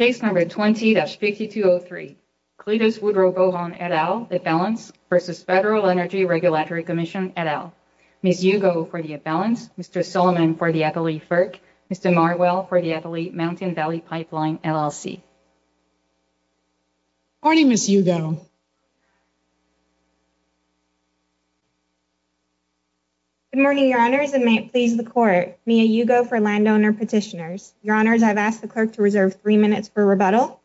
Case number 20-5203 Cletus Woodrow Bohon, et al., Imbalance v. Federal Energy Regulatory Commission, et al. Ms. Hugo for the Imbalance, Mr. Solomon for the Appellee FERC, Mr. Marwell for the Appellee Mountain Valley Pipeline LLC. Good morning, Ms. Hugo. Good morning, Your Honors, and may it please the Court, Mia Hugo for landowner petitioners. Your Honors, I've asked the clerk to reserve three minutes for rebuttal.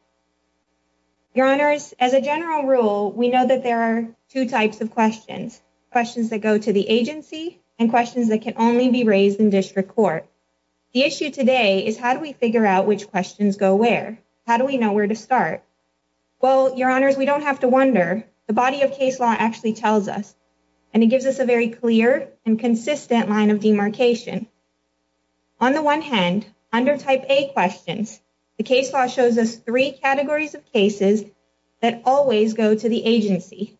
Your Honors, as a general rule, we know that there are two types of questions. Questions that go to the agency and questions that can only be raised in district court. The issue today is how do we figure out which questions go where? How do we know where to start? Well, Your Honors, we don't have to wonder. The body of case law actually tells us, and it gives us a very clear and consistent line of demarcation. On the one hand, under type A questions, the case law shows us three categories of cases that always go to the agency.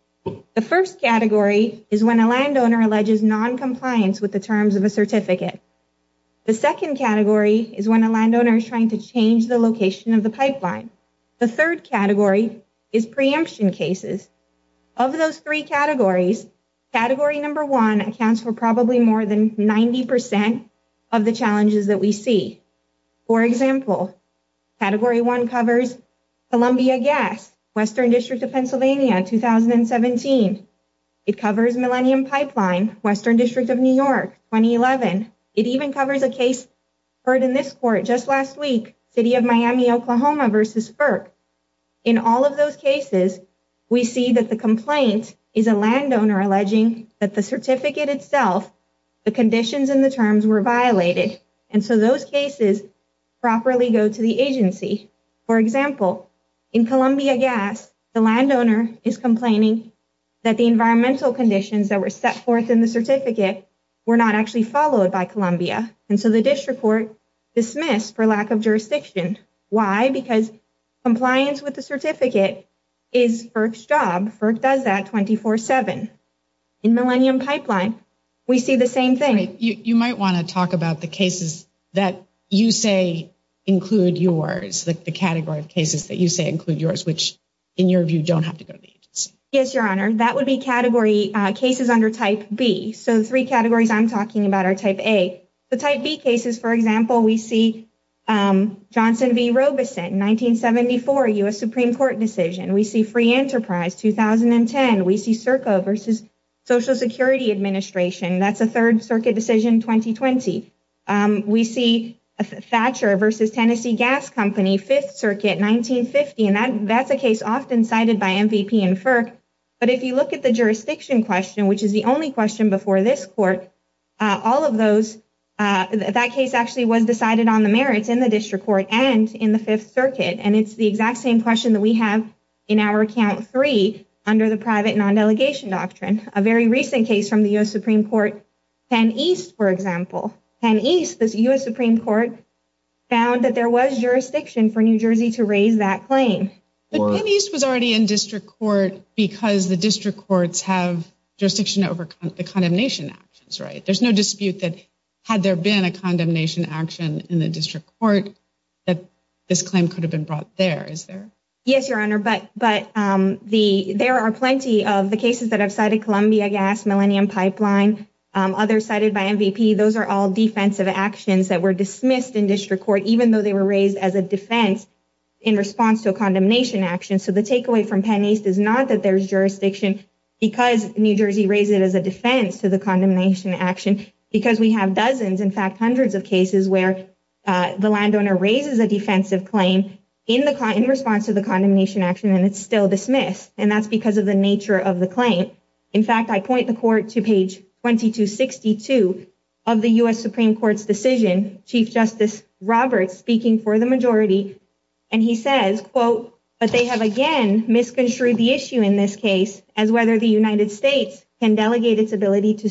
The first category is when a landowner alleges non-compliance with the terms of a certificate. The second category is when a landowner is trying to change the location of the pipeline. The third category is preemption cases. Of those three categories, category number one accounts for probably more than 90 percent of the challenges that we see. For example, category one covers Columbia Gas, Western District of Pennsylvania, 2017. It covers Millennium Pipeline, Western District of New York, 2011. It even covers a case heard in this court just last week, City of Miami, Oklahoma versus FERC. In all of those cases, we see that the complaint is a landowner alleging that the certificate itself, the conditions and the terms were violated. And so those cases properly go to the agency. For example, in Columbia Gas, the landowner is complaining that the environmental conditions that were set forth in the certificate were not actually followed by Columbia. And so the district court dismissed for lack of is FERC's job. FERC does that 24-7. In Millennium Pipeline, we see the same thing. You might want to talk about the cases that you say include yours, the category of cases that you say include yours, which in your view don't have to go to the agency. Yes, Your Honor. That would be category cases under Type B. So three categories I'm talking about are Type A. The Type B cases, for example, we see Johnson v. Robeson, 1974 U.S. Supreme Court decision. We see Free Enterprise, 2010. We see SERCO versus Social Security Administration. That's a Third Circuit decision, 2020. We see Thatcher versus Tennessee Gas Company, Fifth Circuit, 1950. And that's a case often cited by MVP and FERC. But if you look at the jurisdiction question, which is the only question before this court, all of those, that case actually was decided on the merits in the district court and in the Fifth Circuit. And it's the exact same question that we have in our account three under the private non-delegation doctrine. A very recent case from the U.S. Supreme Court, Penn East, for example. Penn East, the U.S. Supreme Court, found that there was jurisdiction for New Jersey to raise that claim. But Penn East was already in district court because the district actions, right? There's no dispute that had there been a condemnation action in the district court that this claim could have been brought there, is there? Yes, Your Honor. But there are plenty of the cases that I've cited, Columbia Gas, Millennium Pipeline, others cited by MVP. Those are all defensive actions that were dismissed in district court, even though they were raised as a defense in response to a condemnation action. So the takeaway from Penn East is not that there's jurisdiction because New Jersey raised it as a defense to condemnation action, because we have dozens, in fact hundreds, of cases where the landowner raises a defensive claim in response to the condemnation action and it's still dismissed. And that's because of the nature of the claim. In fact, I point the court to page 2262 of the U.S. Supreme Court's decision, Chief Justice Roberts speaking for the majority, and he says, quote, but they have again misconstrued the issue in this case as whether the United States can delegate its eminent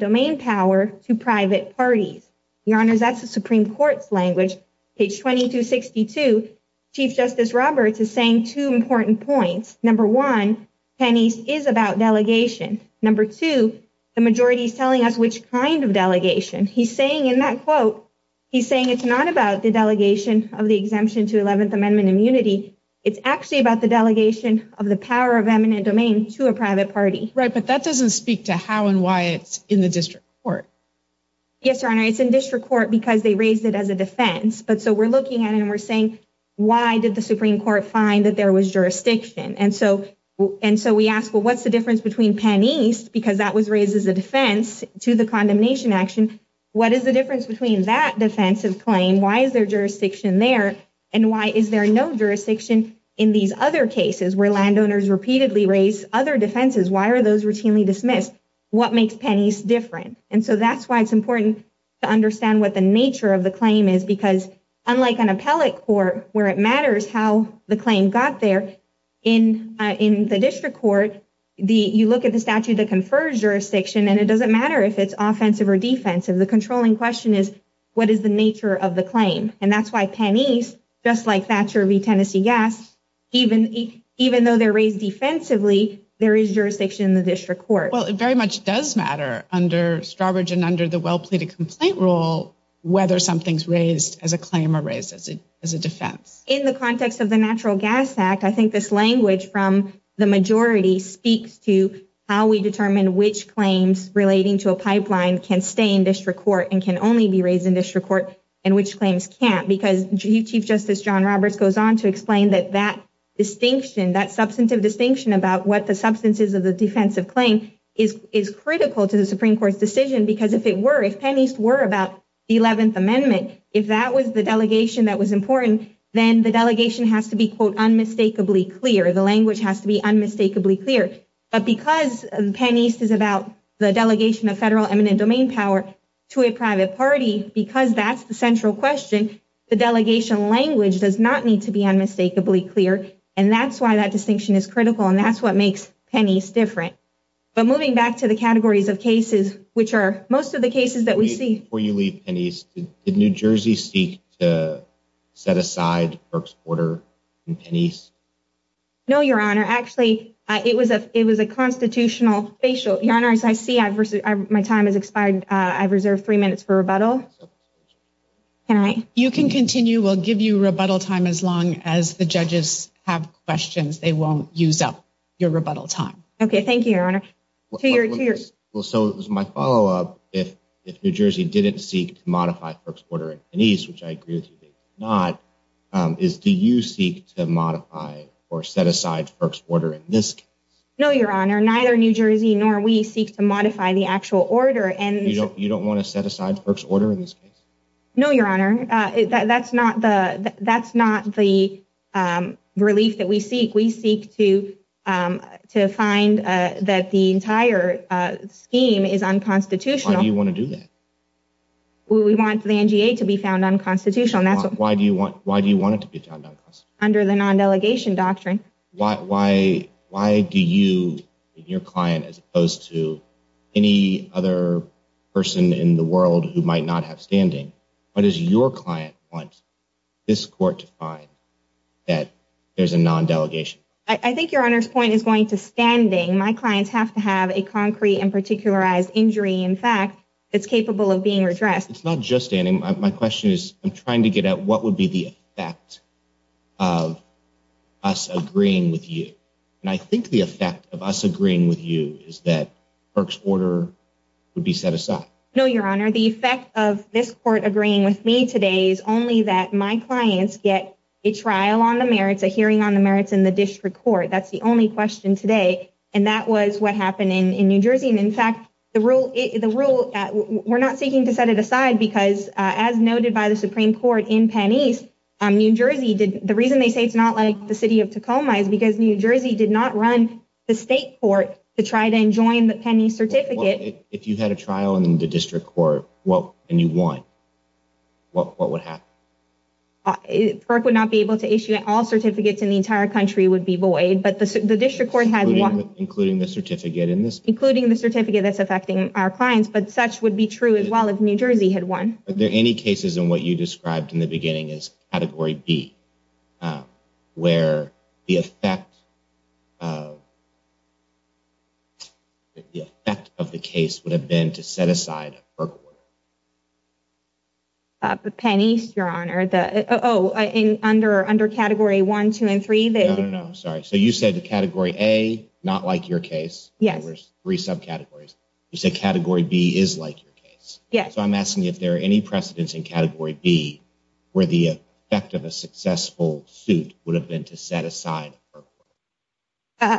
domain power to private parties. Your Honor, that's the Supreme Court's language. Page 2262, Chief Justice Roberts is saying two important points. Number one, Penn East is about delegation. Number two, the majority is telling us which kind of delegation. He's saying in that quote, he's saying it's not about the delegation of the exemption to 11th of the power of eminent domain to a private party. Right, but that doesn't speak to how and why it's in the district court. Yes, Your Honor, it's in district court because they raised it as a defense. But so we're looking at and we're saying, why did the Supreme Court find that there was jurisdiction? And so and so we ask, well what's the difference between Penn East, because that was raised as a defense to the condemnation action, what is the difference between that defensive claim? Why is there jurisdiction there? And why is there no case where landowners repeatedly raise other defenses? Why are those routinely dismissed? What makes Penn East different? And so that's why it's important to understand what the nature of the claim is, because unlike an appellate court where it matters how the claim got there in in the district court, the you look at the statute that confers jurisdiction and it doesn't matter if it's offensive or defensive. The controlling question is, what is the nature of the claim? And that's why Penn East, just like Thatcher v Tennessee Gas, even even though they're raised defensively, there is jurisdiction in the district court. Well, it very much does matter under Strawbridge and under the well pleaded complaint rule whether something's raised as a claim or raised as a as a defense. In the context of the Natural Gas Act, I think this language from the majority speaks to how we determine which claims relating to a pipeline can stay in district court and can only be raised in district court and which claims can't. Because Chief Justice John Roberts goes on to explain that that distinction, that substantive distinction about what the substance is of the defensive claim is is critical to the Supreme Court's decision. Because if it were, if pennies were about the 11th Amendment, if that was the delegation that was important, then the delegation has to be, quote, unmistakably clear. The language has to be unmistakably clear. But because pennies is about the delegation of federal eminent domain power to a private party, because that's the central question, the delegation language does not need to be unmistakably clear. And that's why that distinction is critical. And that's what makes pennies different. But moving back to the categories of cases, which are most of the cases that we see where you leave pennies in New Jersey, seek to set aside perks order pennies. No, Your Honor. Actually, it was a it was a constitutional facial. Your Honor, as I see, I've my time has expired. I've all right. You can continue will give you rebuttal time as long as the judges have questions. They won't use up your rebuttal time. Okay, thank you, Your Honor. Well, so it was my follow up. If New Jersey didn't seek to modify perks order pennies, which I agree with you, not is do you seek to modify or set aside perks order in this? No, Your Honor. Neither New Jersey nor we seek to modify the actual order. And you don't want to set aside perks order in no, Your Honor. That's not the That's not the, um, relief that we seek. We seek to, um, to find that the entire scheme is unconstitutional. Do you want to do that? We want the N. G. A. To be found unconstitutional. And that's why do you want? Why do you want it to be found under the non delegation doctrine? Why? Why do you your client as opposed to any other person in the world who might not have standing? What is your client want this court to find that there's a non delegation? I think your honor's point is going to standing. My clients have to have a concrete and particularized injury. In fact, it's capable of being redressed. It's not just standing. My question is, I'm trying to get out. What would be the fact of us agreeing with you? And I think the effect of us agreeing with you is that perks order would be set no, Your Honor. The effect of this court agreeing with me today is only that my clients get a trial on the merits of hearing on the merits in the district court. That's the only question today. And that was what happened in New Jersey. And in fact, the rule the rule we're not seeking to set it aside because, as noted by the Supreme Court in pennies, New Jersey did. The reason they say it's not like the city of Tacoma is because New Jersey did not run the state court to try to enjoin the pennies certificate. If you had a district court, what can you want? What? What would happen? It would not be able to issue all certificates in the entire country would be void. But the district court has, including the certificate in this, including the certificate that's affecting our clients. But such would be true as well. If New Jersey had one, are there any cases in what you described in the beginning is category B, where the effect of the effect of the case would have been to set aside for pennies? Your Honor, the Oh, under under Category 1, 2 and 3. No, no, sorry. So you said the category a not like your case. Yeah, there's three subcategories. You said Category B is like your case. Yes, I'm asking if there are any precedents in Category B where the effect of a successful suit would have been to set aside. Uh,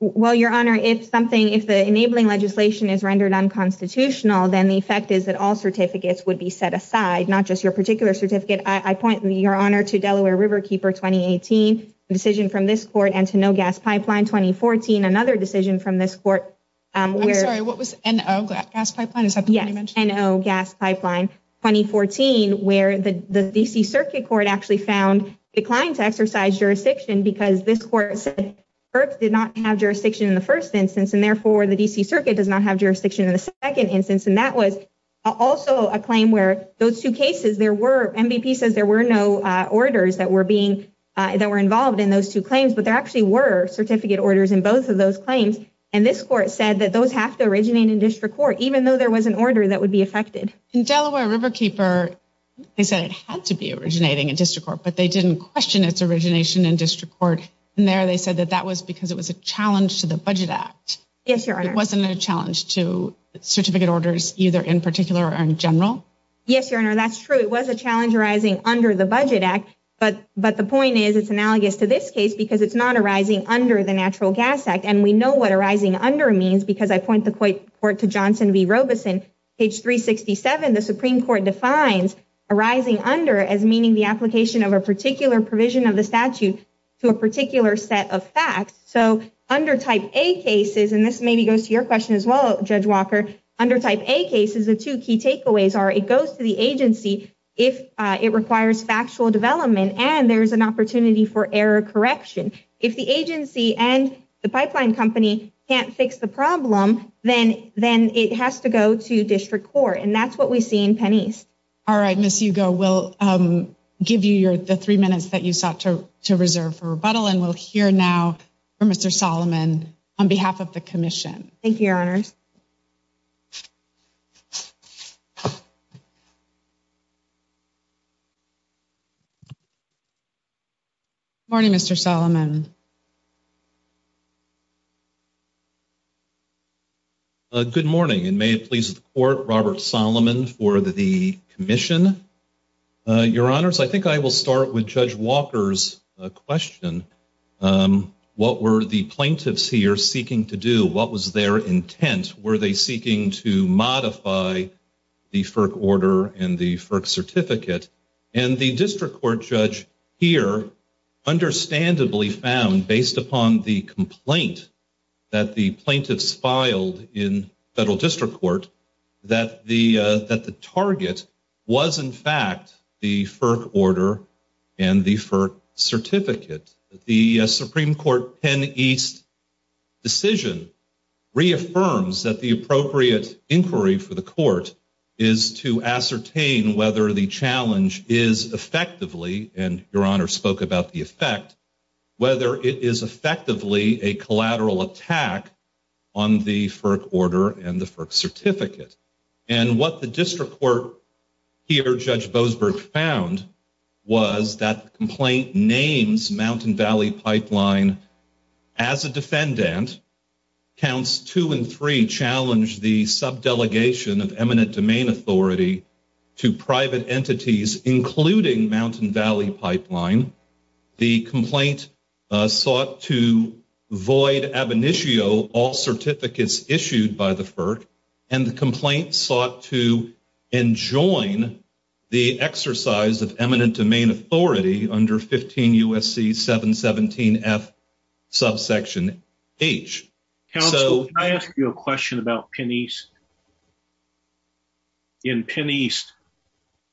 well, Your Honor, if something if the enabling legislation is rendered unconstitutional, then the effect is that all certificates would be set aside, not just your particular certificate. I point your honor to Delaware Riverkeeper 2018 decision from this court and to no gas pipeline. 2014. Another decision from this court. I'm sorry. What was N O gas pipeline? Is that? Yeah, I know. Gas pipeline 2014, where the D. C. Circuit Court actually found declined to exercise jurisdiction because this court did not have jurisdiction in the first instance, and therefore the D. C. Circuit does not have jurisdiction in the second instance. And that was also a claim where those two cases there were. MVP says there were no orders that were being that were involved in those two claims. But there actually were certificate orders in both of those claims. And this court said that those have to originate in district court, even though there was an order that would be affected in Delaware Riverkeeper. They said it had to be originating in district court, but they didn't question its origination in district court. And there they said that that was because it was a challenge to the Budget Act. Yes, Your Honor wasn't a challenge to certificate orders, either in particular or in general. Yes, Your Honor. That's true. It was a challenge arising under the Budget Act. But but the point is, it's analogous to this case because it's not arising under the Natural Gas Act. And we know what arising under means because I point the court to Johnson V fines arising under as meaning the application of a particular provision of the statute to a particular set of facts. So under type a cases, and this maybe goes to your question as well, Judge Walker, under type a cases, the two key takeaways are it goes to the agency if it requires factual development and there's an opportunity for error correction. If the agency and the pipeline company can't fix the problem, then then it has to go to pennies. All right, Miss Hugo will give you your the three minutes that you sought to reserve for rebuttal. And we'll hear now for Mr Solomon on behalf of the commission. Thank you, Your Honors. Morning, Mr Solomon. Good morning, and may it please the court, Robert Solomon for the Commission. Your Honors, I think I will start with Judge Walker's question. What were the plaintiffs here seeking to do? What was their intent? Were they seeking to modify the FERC order and the FERC certificate? And the District Court found, based upon the complaint that the plaintiffs filed in Federal District Court, that the that the target was, in fact, the FERC order and the FERC certificate. The Supreme Court Penn East decision reaffirms that the appropriate inquiry for the court is to ascertain whether the challenge is effectively, and Your Honor spoke about the effect, whether it is effectively a collateral attack on the FERC order and the FERC certificate. And what the District Court here, Judge Boasberg, found was that the complaint names Mountain Valley Pipeline as a defendant. Counts two and three challenged the Mountain Valley Pipeline. The complaint sought to void ab initio all certificates issued by the FERC, and the complaint sought to enjoin the exercise of eminent domain authority under 15 U. S. C. 7 17 F. Subsection H. Counsel, can I ask you a question about Penn East? In Penn East,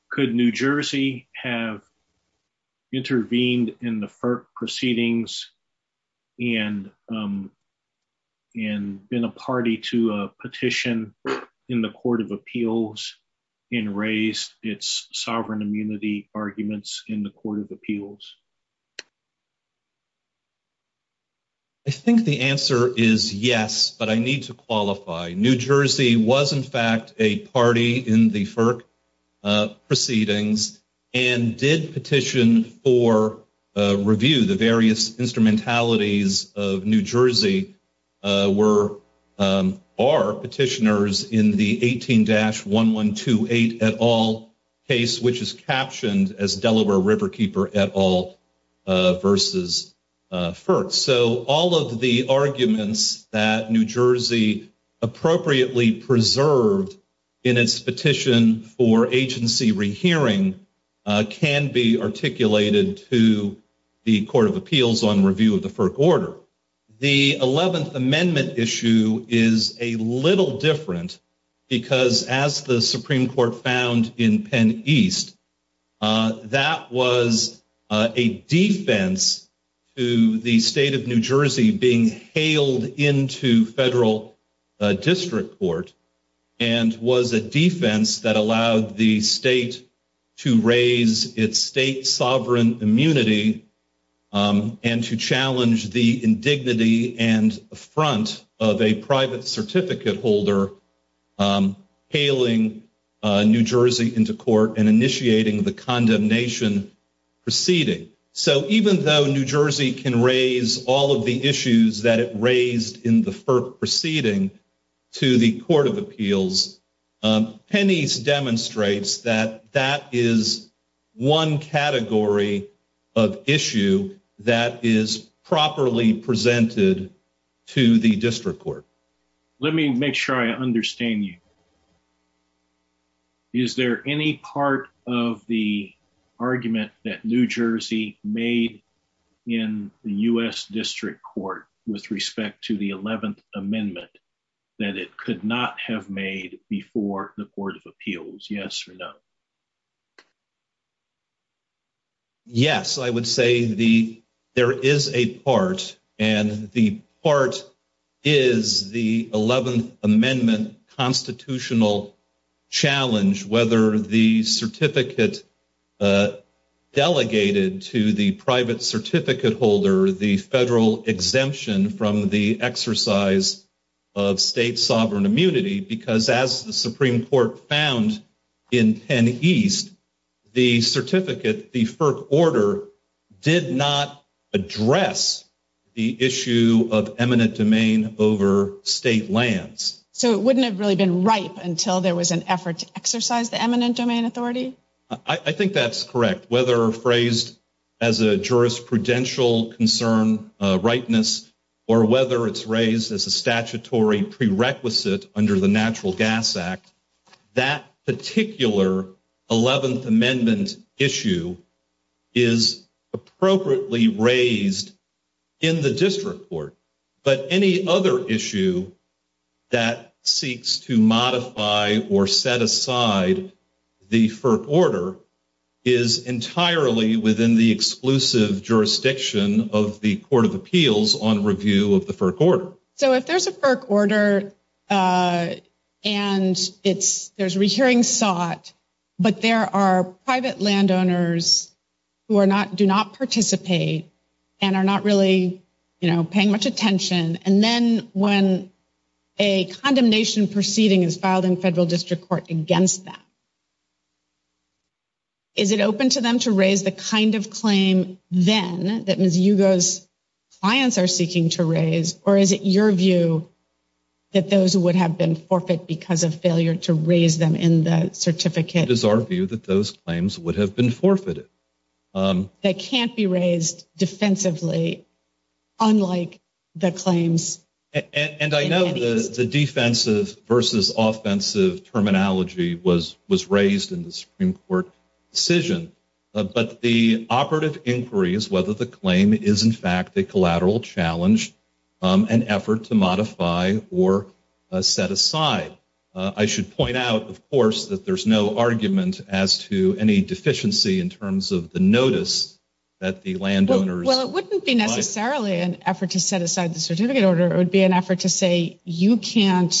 could New Jersey have intervened in the FERC proceedings and, and been a party to a petition in the Court of Appeals and raised its sovereign immunity arguments in the Court of Appeals? I think the answer is yes, but I need to qualify. New Jersey was in fact a party in the FERC proceedings and did petition for review. The various instrumentalities of New Jersey were, are petitioners in the 18-1128 case, which is captioned as Delaware Riverkeeper et al. versus FERC. So all of the arguments that New Jersey appropriately preserved in its petition for agency rehearing can be articulated to the Court of Appeals on review of the FERC order. The 11th Amendment issue is a little different because, as the Supreme Court found in Penn East, that was a defense to the state of New Jersey being hailed into federal district court and was a defense that allowed the state to raise its state sovereign immunity and to challenge the New Jersey into court and initiating the condemnation proceeding. So even though New Jersey can raise all of the issues that it raised in the FERC proceeding to the Court of Appeals, Penn East demonstrates that that is one category of issue that is properly presented to the district court. Let me make sure I understand you. Is there any part of the argument that New Jersey made in the U.S. District Court with respect to the 11th Amendment that it could not have made before the Court of Appeals? Yes or no? Yes, I would say there is a part, and the part is the 11th Amendment constitutional challenge, whether the certificate delegated to the private certificate holder, the federal exemption from the exercise of state authority in Penn East, the certificate, the FERC order, did not address the issue of eminent domain over state lands. So it wouldn't have really been ripe until there was an effort to exercise the eminent domain authority? I think that's correct. Whether phrased as a jurisprudential concern, rightness, or whether it's raised as a statutory prerequisite under the Natural Gas Act, that particular 11th Amendment issue is appropriately raised in the district court. But any other issue that seeks to modify or set aside the FERC order is entirely within the exclusive jurisdiction of the Court of Appeals on There's a FERC order, and there's rehearing sought, but there are private landowners who do not participate and are not really paying much attention, and then when a condemnation proceeding is filed in federal district court against them, is it open to them to raise the kind of claim then that Ms. that those would have been forfeit because of failure to raise them in the certificate? It is our view that those claims would have been forfeited. They can't be raised defensively, unlike the claims. And I know the defensive versus offensive terminology was raised in the Supreme Court decision, but the operative inquiry is whether the claim is in fact a collateral challenge, an effort to modify or set aside. I should point out, of course, that there's no argument as to any deficiency in terms of the notice that the landowners... Well, it wouldn't be necessarily an effort to set aside the certificate order. It would be an effort to say, you can't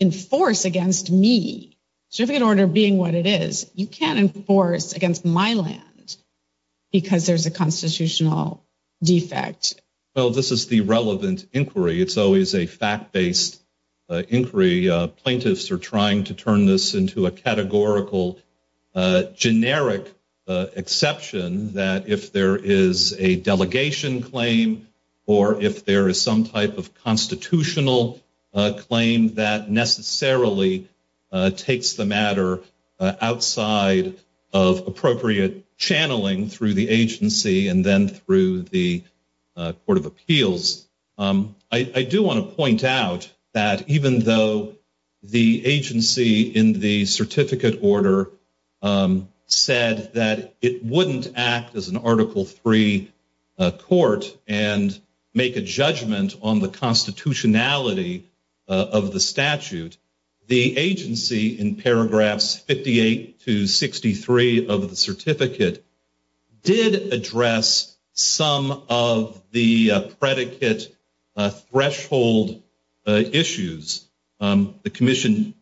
enforce against me. Certificate order being what it is, you can't enforce against my land because there's a constitutional defect. Well, this is the relevant inquiry. It's always a fact-based inquiry. Plaintiffs are trying to turn this into a categorical, generic exception that if there is a delegation claim or if there is some type of constitutional claim that necessarily takes the matter outside of appropriate channeling through the agency and then through the Court of Appeals. I do want to point out that even though the agency in the certificate order said that it wouldn't act as an Article III court and make a judgment on the constitutionality of the statute, the agency in paragraphs 58 to 63 of the certificate did address some of the predicate threshold issues. The commission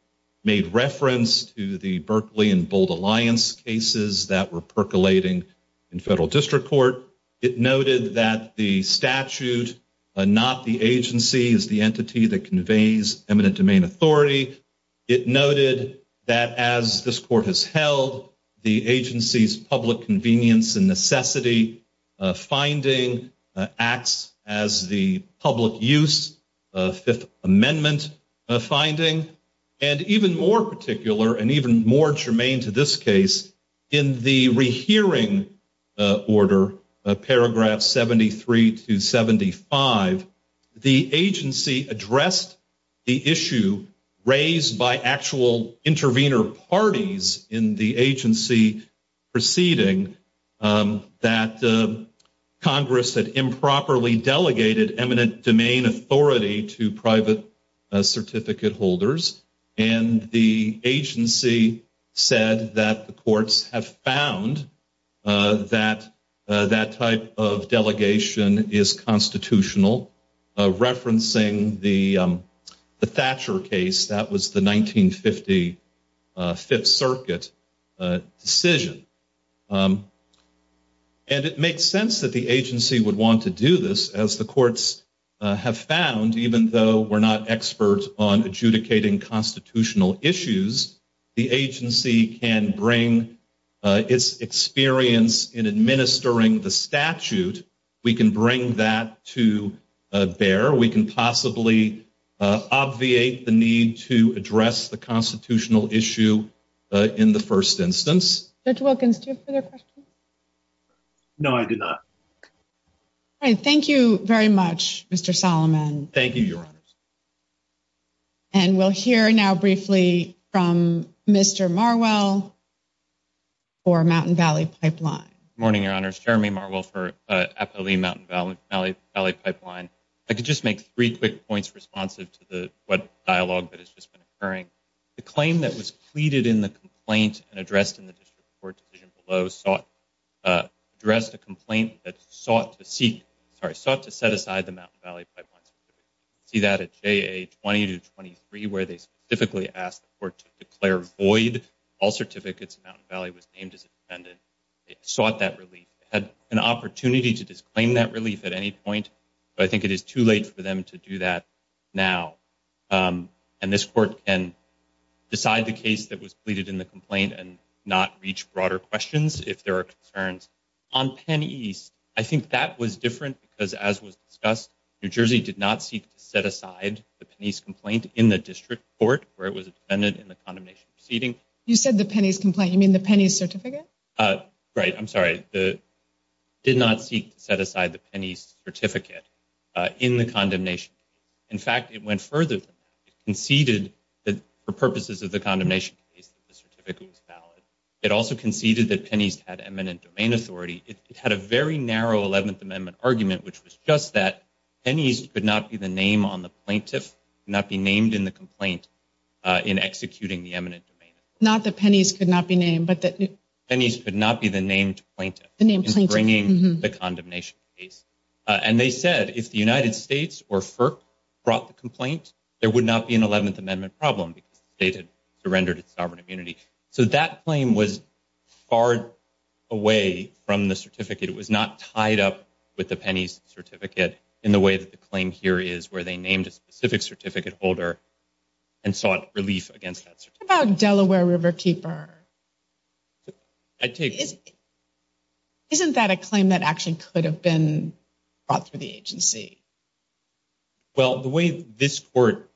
made reference to the Berkeley and Bold Alliance cases that were percolating in federal district court. It noted that the statute, not the agency, is the entity that conveys eminent domain authority. It noted that as this court has held, the agency's public convenience and necessity finding acts as the public use Fifth Amendment finding. And even more particular and even more germane to this case, in the rehearing order, paragraphs 73 to 75, the agency addressed the issue raised by actual intervener parties in the agency proceeding that Congress had improperly delegated eminent domain authority to private certificate holders. And the agency said that the courts have found that that type of delegation is constitutional, referencing the Thatcher case. That was the 1950 Fifth Circuit decision. And it makes sense that the agency would want to do this as the courts have found, even though we're not experts on adjudicating constitutional issues, the agency can bring its experience in administering the statute. We can bring that to bear. We can possibly obviate the need to address the constitutional issue in the first instance. Judge Wilkins, do you have further questions? No, I do not. All right. Thank you very much, Mr. Solomon. Thank you, Your Honors. And we'll hear now briefly from Mr. Marwell for Mountain Valley Pipeline. Morning, Your Honors. Jeremy Marwell for Appalachian Mountain Valley Pipeline. I could just make three quick points responsive to the dialogue that has just been occurring. The claim that was pleaded in the complaint and addressed in the district court decision below addressed a complaint that sought to seek, sorry, sought to set aside the Mountain Valley Pipeline certificate. You can see that at JA 20 to 23, where they specifically asked the court to declare void. All certificates in Mountain Valley was named as independent. It sought that relief. It had an opportunity to disclaim that relief at any point, but I think it is too late for them to do that now. And this court can decide the case that was pleaded in the complaint and not reach broader questions if there are concerns. On Penn East, I think that was different because as was discussed, New Jersey did not seek to set aside the Penn East complaint in the district court, where it was independent in the condemnation proceeding. You said the Penny's complaint. You mean the Penny's certificate? Right. I'm sorry. It did not seek to set aside the Penny's certificate in the condemnation. In fact, it went further than that. It conceded that for purposes of the condemnation case, the certificate was valid. It also conceded that Penny's had eminent domain authority. It had a very narrow 11th Amendment argument, which was just that Penny's could not be the name on the plaintiff, not be named in the complaint in executing the eminent domain. Not that Penny's could not be named, but that Penny's could not be the named plaintiff in bringing the condemnation case. And they said if the United States or FERC brought the complaint, there would not be an 11th problem because the state had surrendered its sovereign immunity. So that claim was far away from the certificate. It was not tied up with the Penny's certificate in the way that the claim here is, where they named a specific certificate holder and sought relief against that certificate. What about Delaware Riverkeeper? Isn't that a claim that actually could have been brought through the agency? Well, the way this court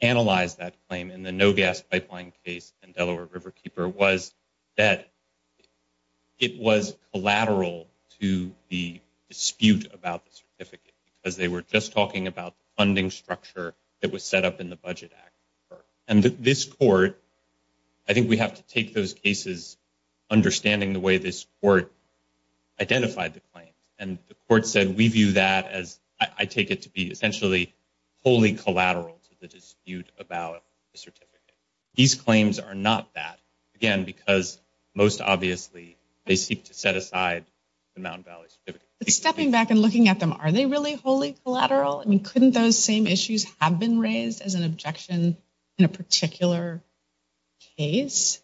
analyzed that claim in the No Gas Pipeline case and Delaware Riverkeeper was that it was collateral to the dispute about the certificate because they were just talking about the funding structure that was set up in the Budget Act. And this court, I think we have to take those cases understanding the way this court identified the claims. And the court said we view that as, I take it to be essentially wholly collateral to the dispute about the certificate. These claims are not that. Again, because most obviously they seek to set aside the Mountain Valley certificate. But stepping back and looking at them, are they really wholly collateral? I mean, couldn't those same issues have been raised as an objection in a particular case?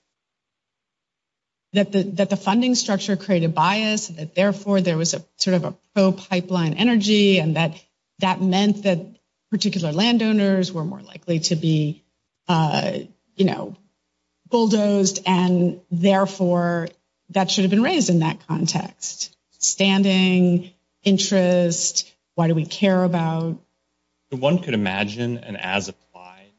That the funding structure created bias, that therefore there was a sort of a pro-pipeline energy and that that meant that particular landowners were more likely to be bulldozed and therefore that should have been raised in that context. Standing, interest, why do we care about? One could imagine an as-applied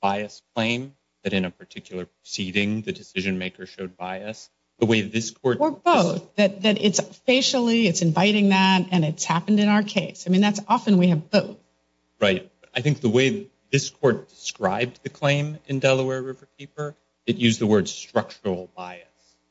bias claim that a particular proceeding, the decision-maker showed bias. Or both. That it's facially, it's inviting that, and it's happened in our case. I mean, that's often we have both. Right. I think the way this court described the claim in Delaware Riverkeeper, it used the word structural bias.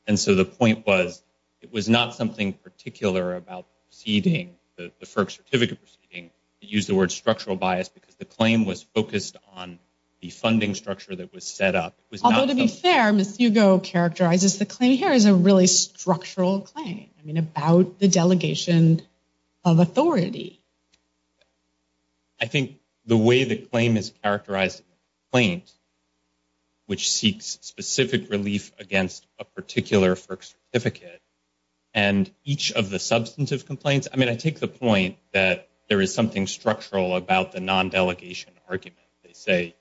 And so the point was, it was not something particular about proceeding, the FERC certificate proceeding. It used the word structural bias because the claim was focused on the funding structure that was set up. Although to be fair, Ms. Hugo characterizes the claim here as a really structural claim. I mean, about the delegation of authority. I think the way the claim is characterized in the complaint, which seeks specific relief against a particular FERC certificate, and each of the substantive complaints, I mean, I take the point that there is something structural about the non-delegation argument. They say,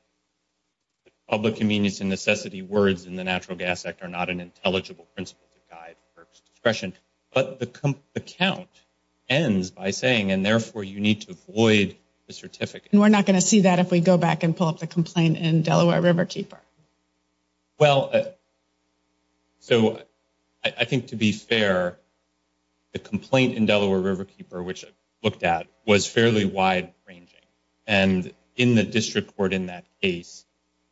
public convenience and necessity words in the Natural Gas Act are not an intelligible principle to guide FERC's discretion. But the account ends by saying, and therefore you need to avoid the certificate. And we're not going to see that if we go back and pull up the complaint in Delaware Riverkeeper. Well, so I think to be fair, the complaint in Delaware Riverkeeper, which I looked at, was fairly wide ranging. And in the district court in that case,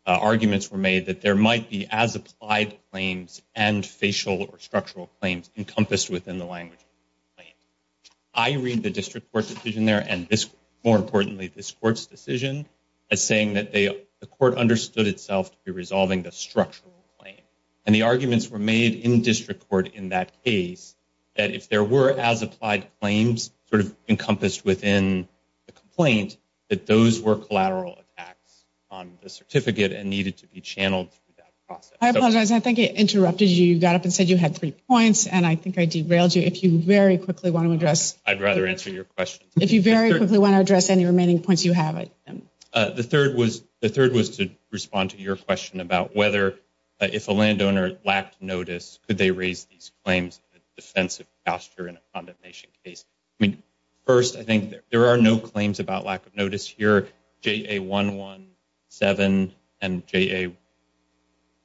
arguments were made that there might be as applied claims and facial or structural claims encompassed within the language of the complaint. I read the district court's decision there and more importantly, this court's decision as saying that the court understood itself to be resolving the structural claim. And the arguments were made in district court in that case, that if there were as applied claims sort of encompassed within the complaint, that those were collateral attacks on the certificate and needed to be channeled through that process. I apologize. I think it interrupted you. You got up and said you had three points and I think I derailed you. If you very quickly want to address... I'd rather answer your question. If you very quickly want to address any remaining points, you have it. The third was to respond to your question about whether if a landowner lacked notice, could they raise these claims in a defensive posture in a condemnation case? I mean, first, I think there are no claims about lack of notice here. JA 117 and JA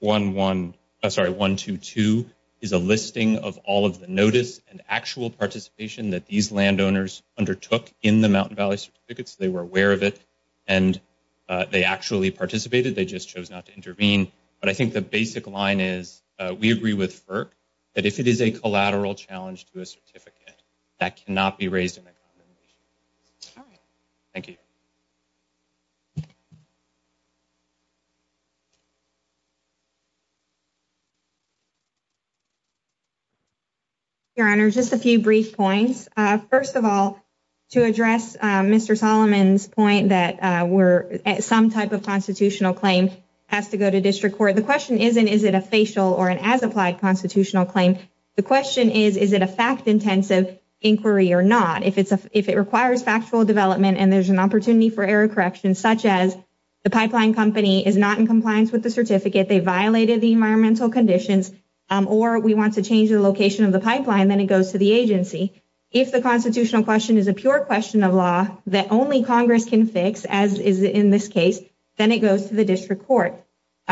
122 is a listing of all of the notice and actual participation that these landowners undertook in the Mountain Valley Certificates. They were aware of it and they actually participated. They just chose not to intervene. But I think the basic line is we agree with FERC that if it is a collateral challenge to a certificate, that cannot be raised in a condemnation case. All right. Thank you. Your Honor, just a few brief points. First of all, to address Mr. Solomon's point that some type of constitutional claim has to go to district court, the question isn't, is it a facial or an as-applied constitutional claim? The question is, is it a fact-intensive inquiry or not? If it requires factual development and there's an opportunity for error correction, such as the pipeline company is not in compliance with the certificate, they violated the environmental conditions, or we want to change the location of the pipeline, then it goes to the agency. If the constitutional question is a pure question of law that only Congress can fix, as is in this case, then it goes to the district court.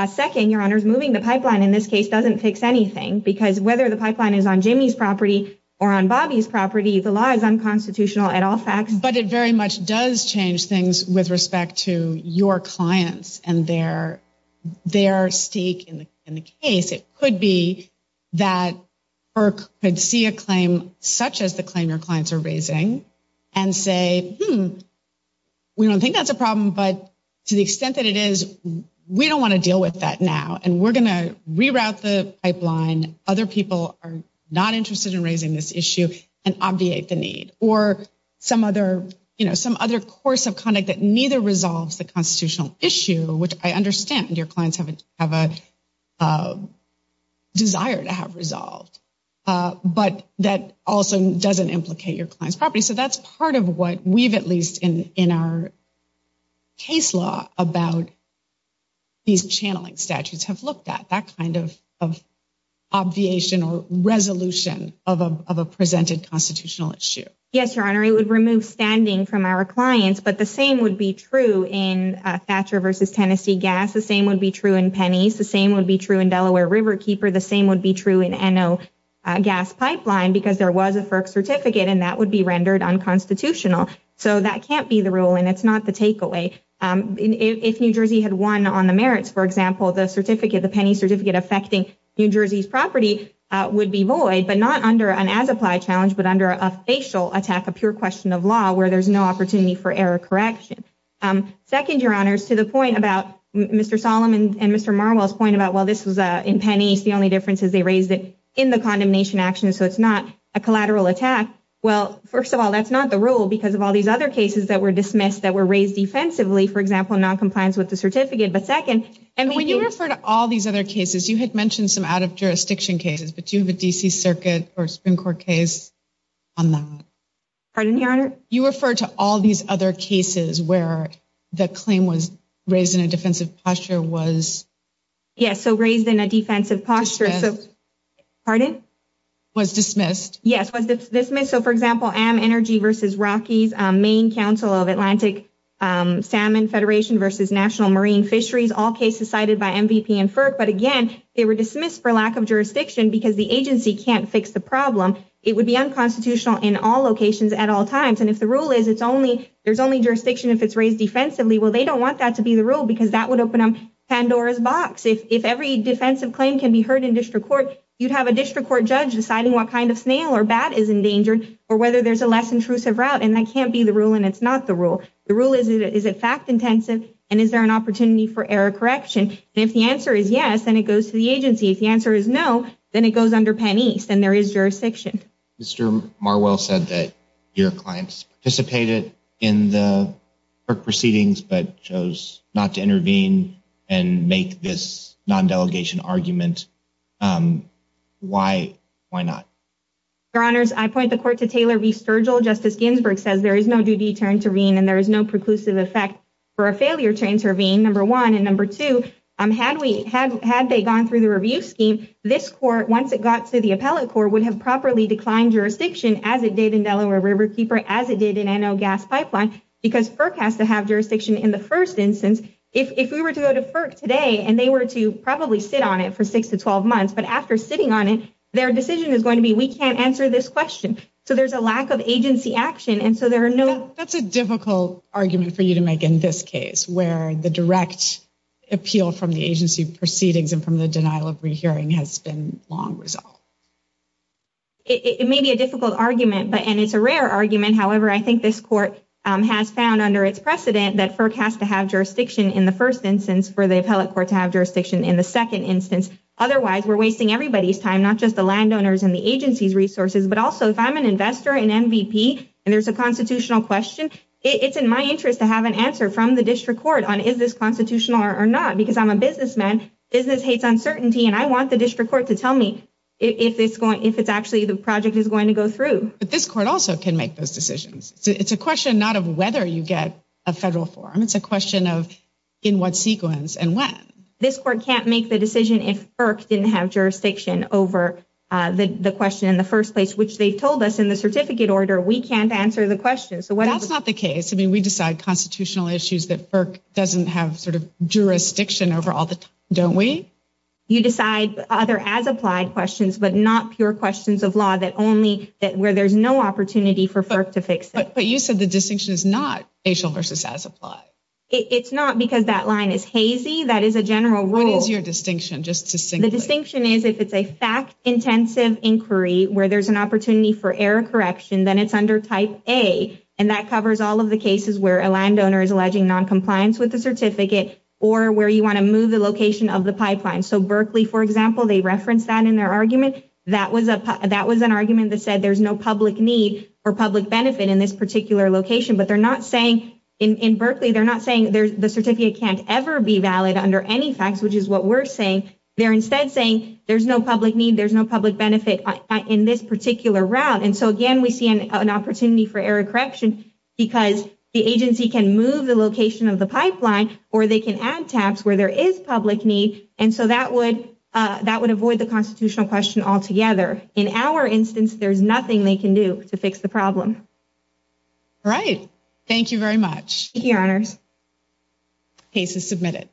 Second, Your Honor, moving the pipeline in this case doesn't fix anything because whether the pipeline is on Jimmy's property or on Bobby's property, the law is unconstitutional at all facts. But it very much does change things with respect to your clients and their stake in the case. It could be that FERC could see a claim such as the claim your clients are raising and say, we don't think that's a problem, but to the extent that it is, we don't want to deal with that now, and we're going to reroute the pipeline. Other people are not interested in raising this issue and obviate the need. Or some other course of conduct that neither resolves the issue. But that also doesn't implicate your client's property. So that's part of what we've, at least in our case law, about these channeling statutes have looked at, that kind of obviation or resolution of a presented constitutional issue. Yes, Your Honor, it would remove standing from our clients, but the same would be true in Thatcher v. Tennessee Gas. The same would be true in Penny's. The same would be true in Delaware Riverkeeper. The same would be true in Enno Gas Pipeline because there was a FERC certificate and that would be rendered unconstitutional. So that can't be the rule and it's not the takeaway. If New Jersey had won on the merits, for example, the certificate, the Penny certificate affecting New Jersey's property would be void, but not under an as-applied challenge, but under a facial attack, a pure question of law where there's no opportunity for error correction. Second, Your Honors, to the point about Mr. Solomon and Mr. Marwell's point about, well, this was in Penny's, the only difference is they raised it in the condemnation action, so it's not a collateral attack. Well, first of all, that's not the rule because of all these other cases that were dismissed that were raised defensively, for example, noncompliance with the certificate. But second, and when you refer to all these other cases, you had mentioned some out of jurisdiction cases, but you have a D.C. Circuit or Supreme Court case on that. Pardon me, Your Honor? You refer to all these other cases where the claim was raised in a defensive posture was? Yes, so raised in a pardon? Was dismissed. Yes, was dismissed. So, for example, Am Energy versus Rocky's Maine Council of Atlantic Salmon Federation versus National Marine Fisheries, all cases cited by MVP and FERC. But again, they were dismissed for lack of jurisdiction because the agency can't fix the problem. It would be unconstitutional in all locations at all times. And if the rule is it's only there's only jurisdiction if it's raised defensively, well, they don't want that to be the rule because that would open Pandora's box. If every defensive claim can be heard in district court, you'd have a district court judge deciding what kind of snail or bat is endangered or whether there's a less intrusive route. And that can't be the rule. And it's not the rule. The rule is, is it fact intensive? And is there an opportunity for error correction? And if the answer is yes, then it goes to the agency. If the answer is no, then it goes under Penn East and there is jurisdiction. Mr. Marwell said that your clients participated in the proceedings but chose not to intervene and make this non-delegation argument. Why, why not? Your honors, I point the court to Taylor v. Sturgill. Justice Ginsburg says there is no duty to intervene and there is no preclusive effect for a failure to intervene, number one. And number two, um, had we had, had they gone through the review scheme, this court, once it got to the appellate court would have properly declined jurisdiction as it did in Delaware Riverkeeper, as it did in because FERC has to have jurisdiction in the first instance. If, if we were to go to FERC today and they were to probably sit on it for six to 12 months, but after sitting on it, their decision is going to be, we can't answer this question. So there's a lack of agency action. And so there are no, that's a difficult argument for you to make in this case where the direct appeal from the agency proceedings and from the denial of rehearing has been long resolved. It may be a difficult argument, but, and it's a rare argument. However, I think this court has found under its precedent that FERC has to have jurisdiction in the first instance for the appellate court to have jurisdiction in the second instance. Otherwise we're wasting everybody's time, not just the landowners and the agency's resources, but also if I'm an investor in MVP and there's a constitutional question, it's in my interest to have an answer from the district court on, is this constitutional or not? Because I'm a businessman, business hates uncertainty. And I want the district court to tell me if it's actually the project is going to go through. But this court also can make those decisions. It's a question not of whether you get a federal form. It's a question of in what sequence and when. This court can't make the decision if FERC didn't have jurisdiction over the question in the first place, which they've told us in the certificate order, we can't answer the question. So that's not the case. I mean, we decide constitutional issues that FERC doesn't have jurisdiction over all the time, don't we? You decide other as-applied questions, but not pure questions of law where there's no opportunity for FERC to fix it. But you said the distinction is not facial versus as-applied. It's not because that line is hazy. That is a general rule. What is your distinction, just to say? The distinction is if it's a fact-intensive inquiry where there's an opportunity for error correction, then it's under type A. And that covers all of the cases where a landowner is alleging noncompliance with the certificate or where you want to move the location of the pipeline. So Berkeley, for example, they referenced that in their argument. That was an argument that said there's no public need or public benefit in this particular location. But they're not saying in Berkeley, they're not saying the certificate can't ever be valid under any facts, which is what we're saying. They're instead saying there's no public need, there's no public benefit in this particular route. And so again, we see an opportunity for error correction because the agency can move the location of the pipeline or they can add tabs where there is public need. And so that would avoid the constitutional question altogether. In our instance, there's nothing they can do to fix the problem. All right. Thank you very much. Thank you, Your Honors. The case is submitted.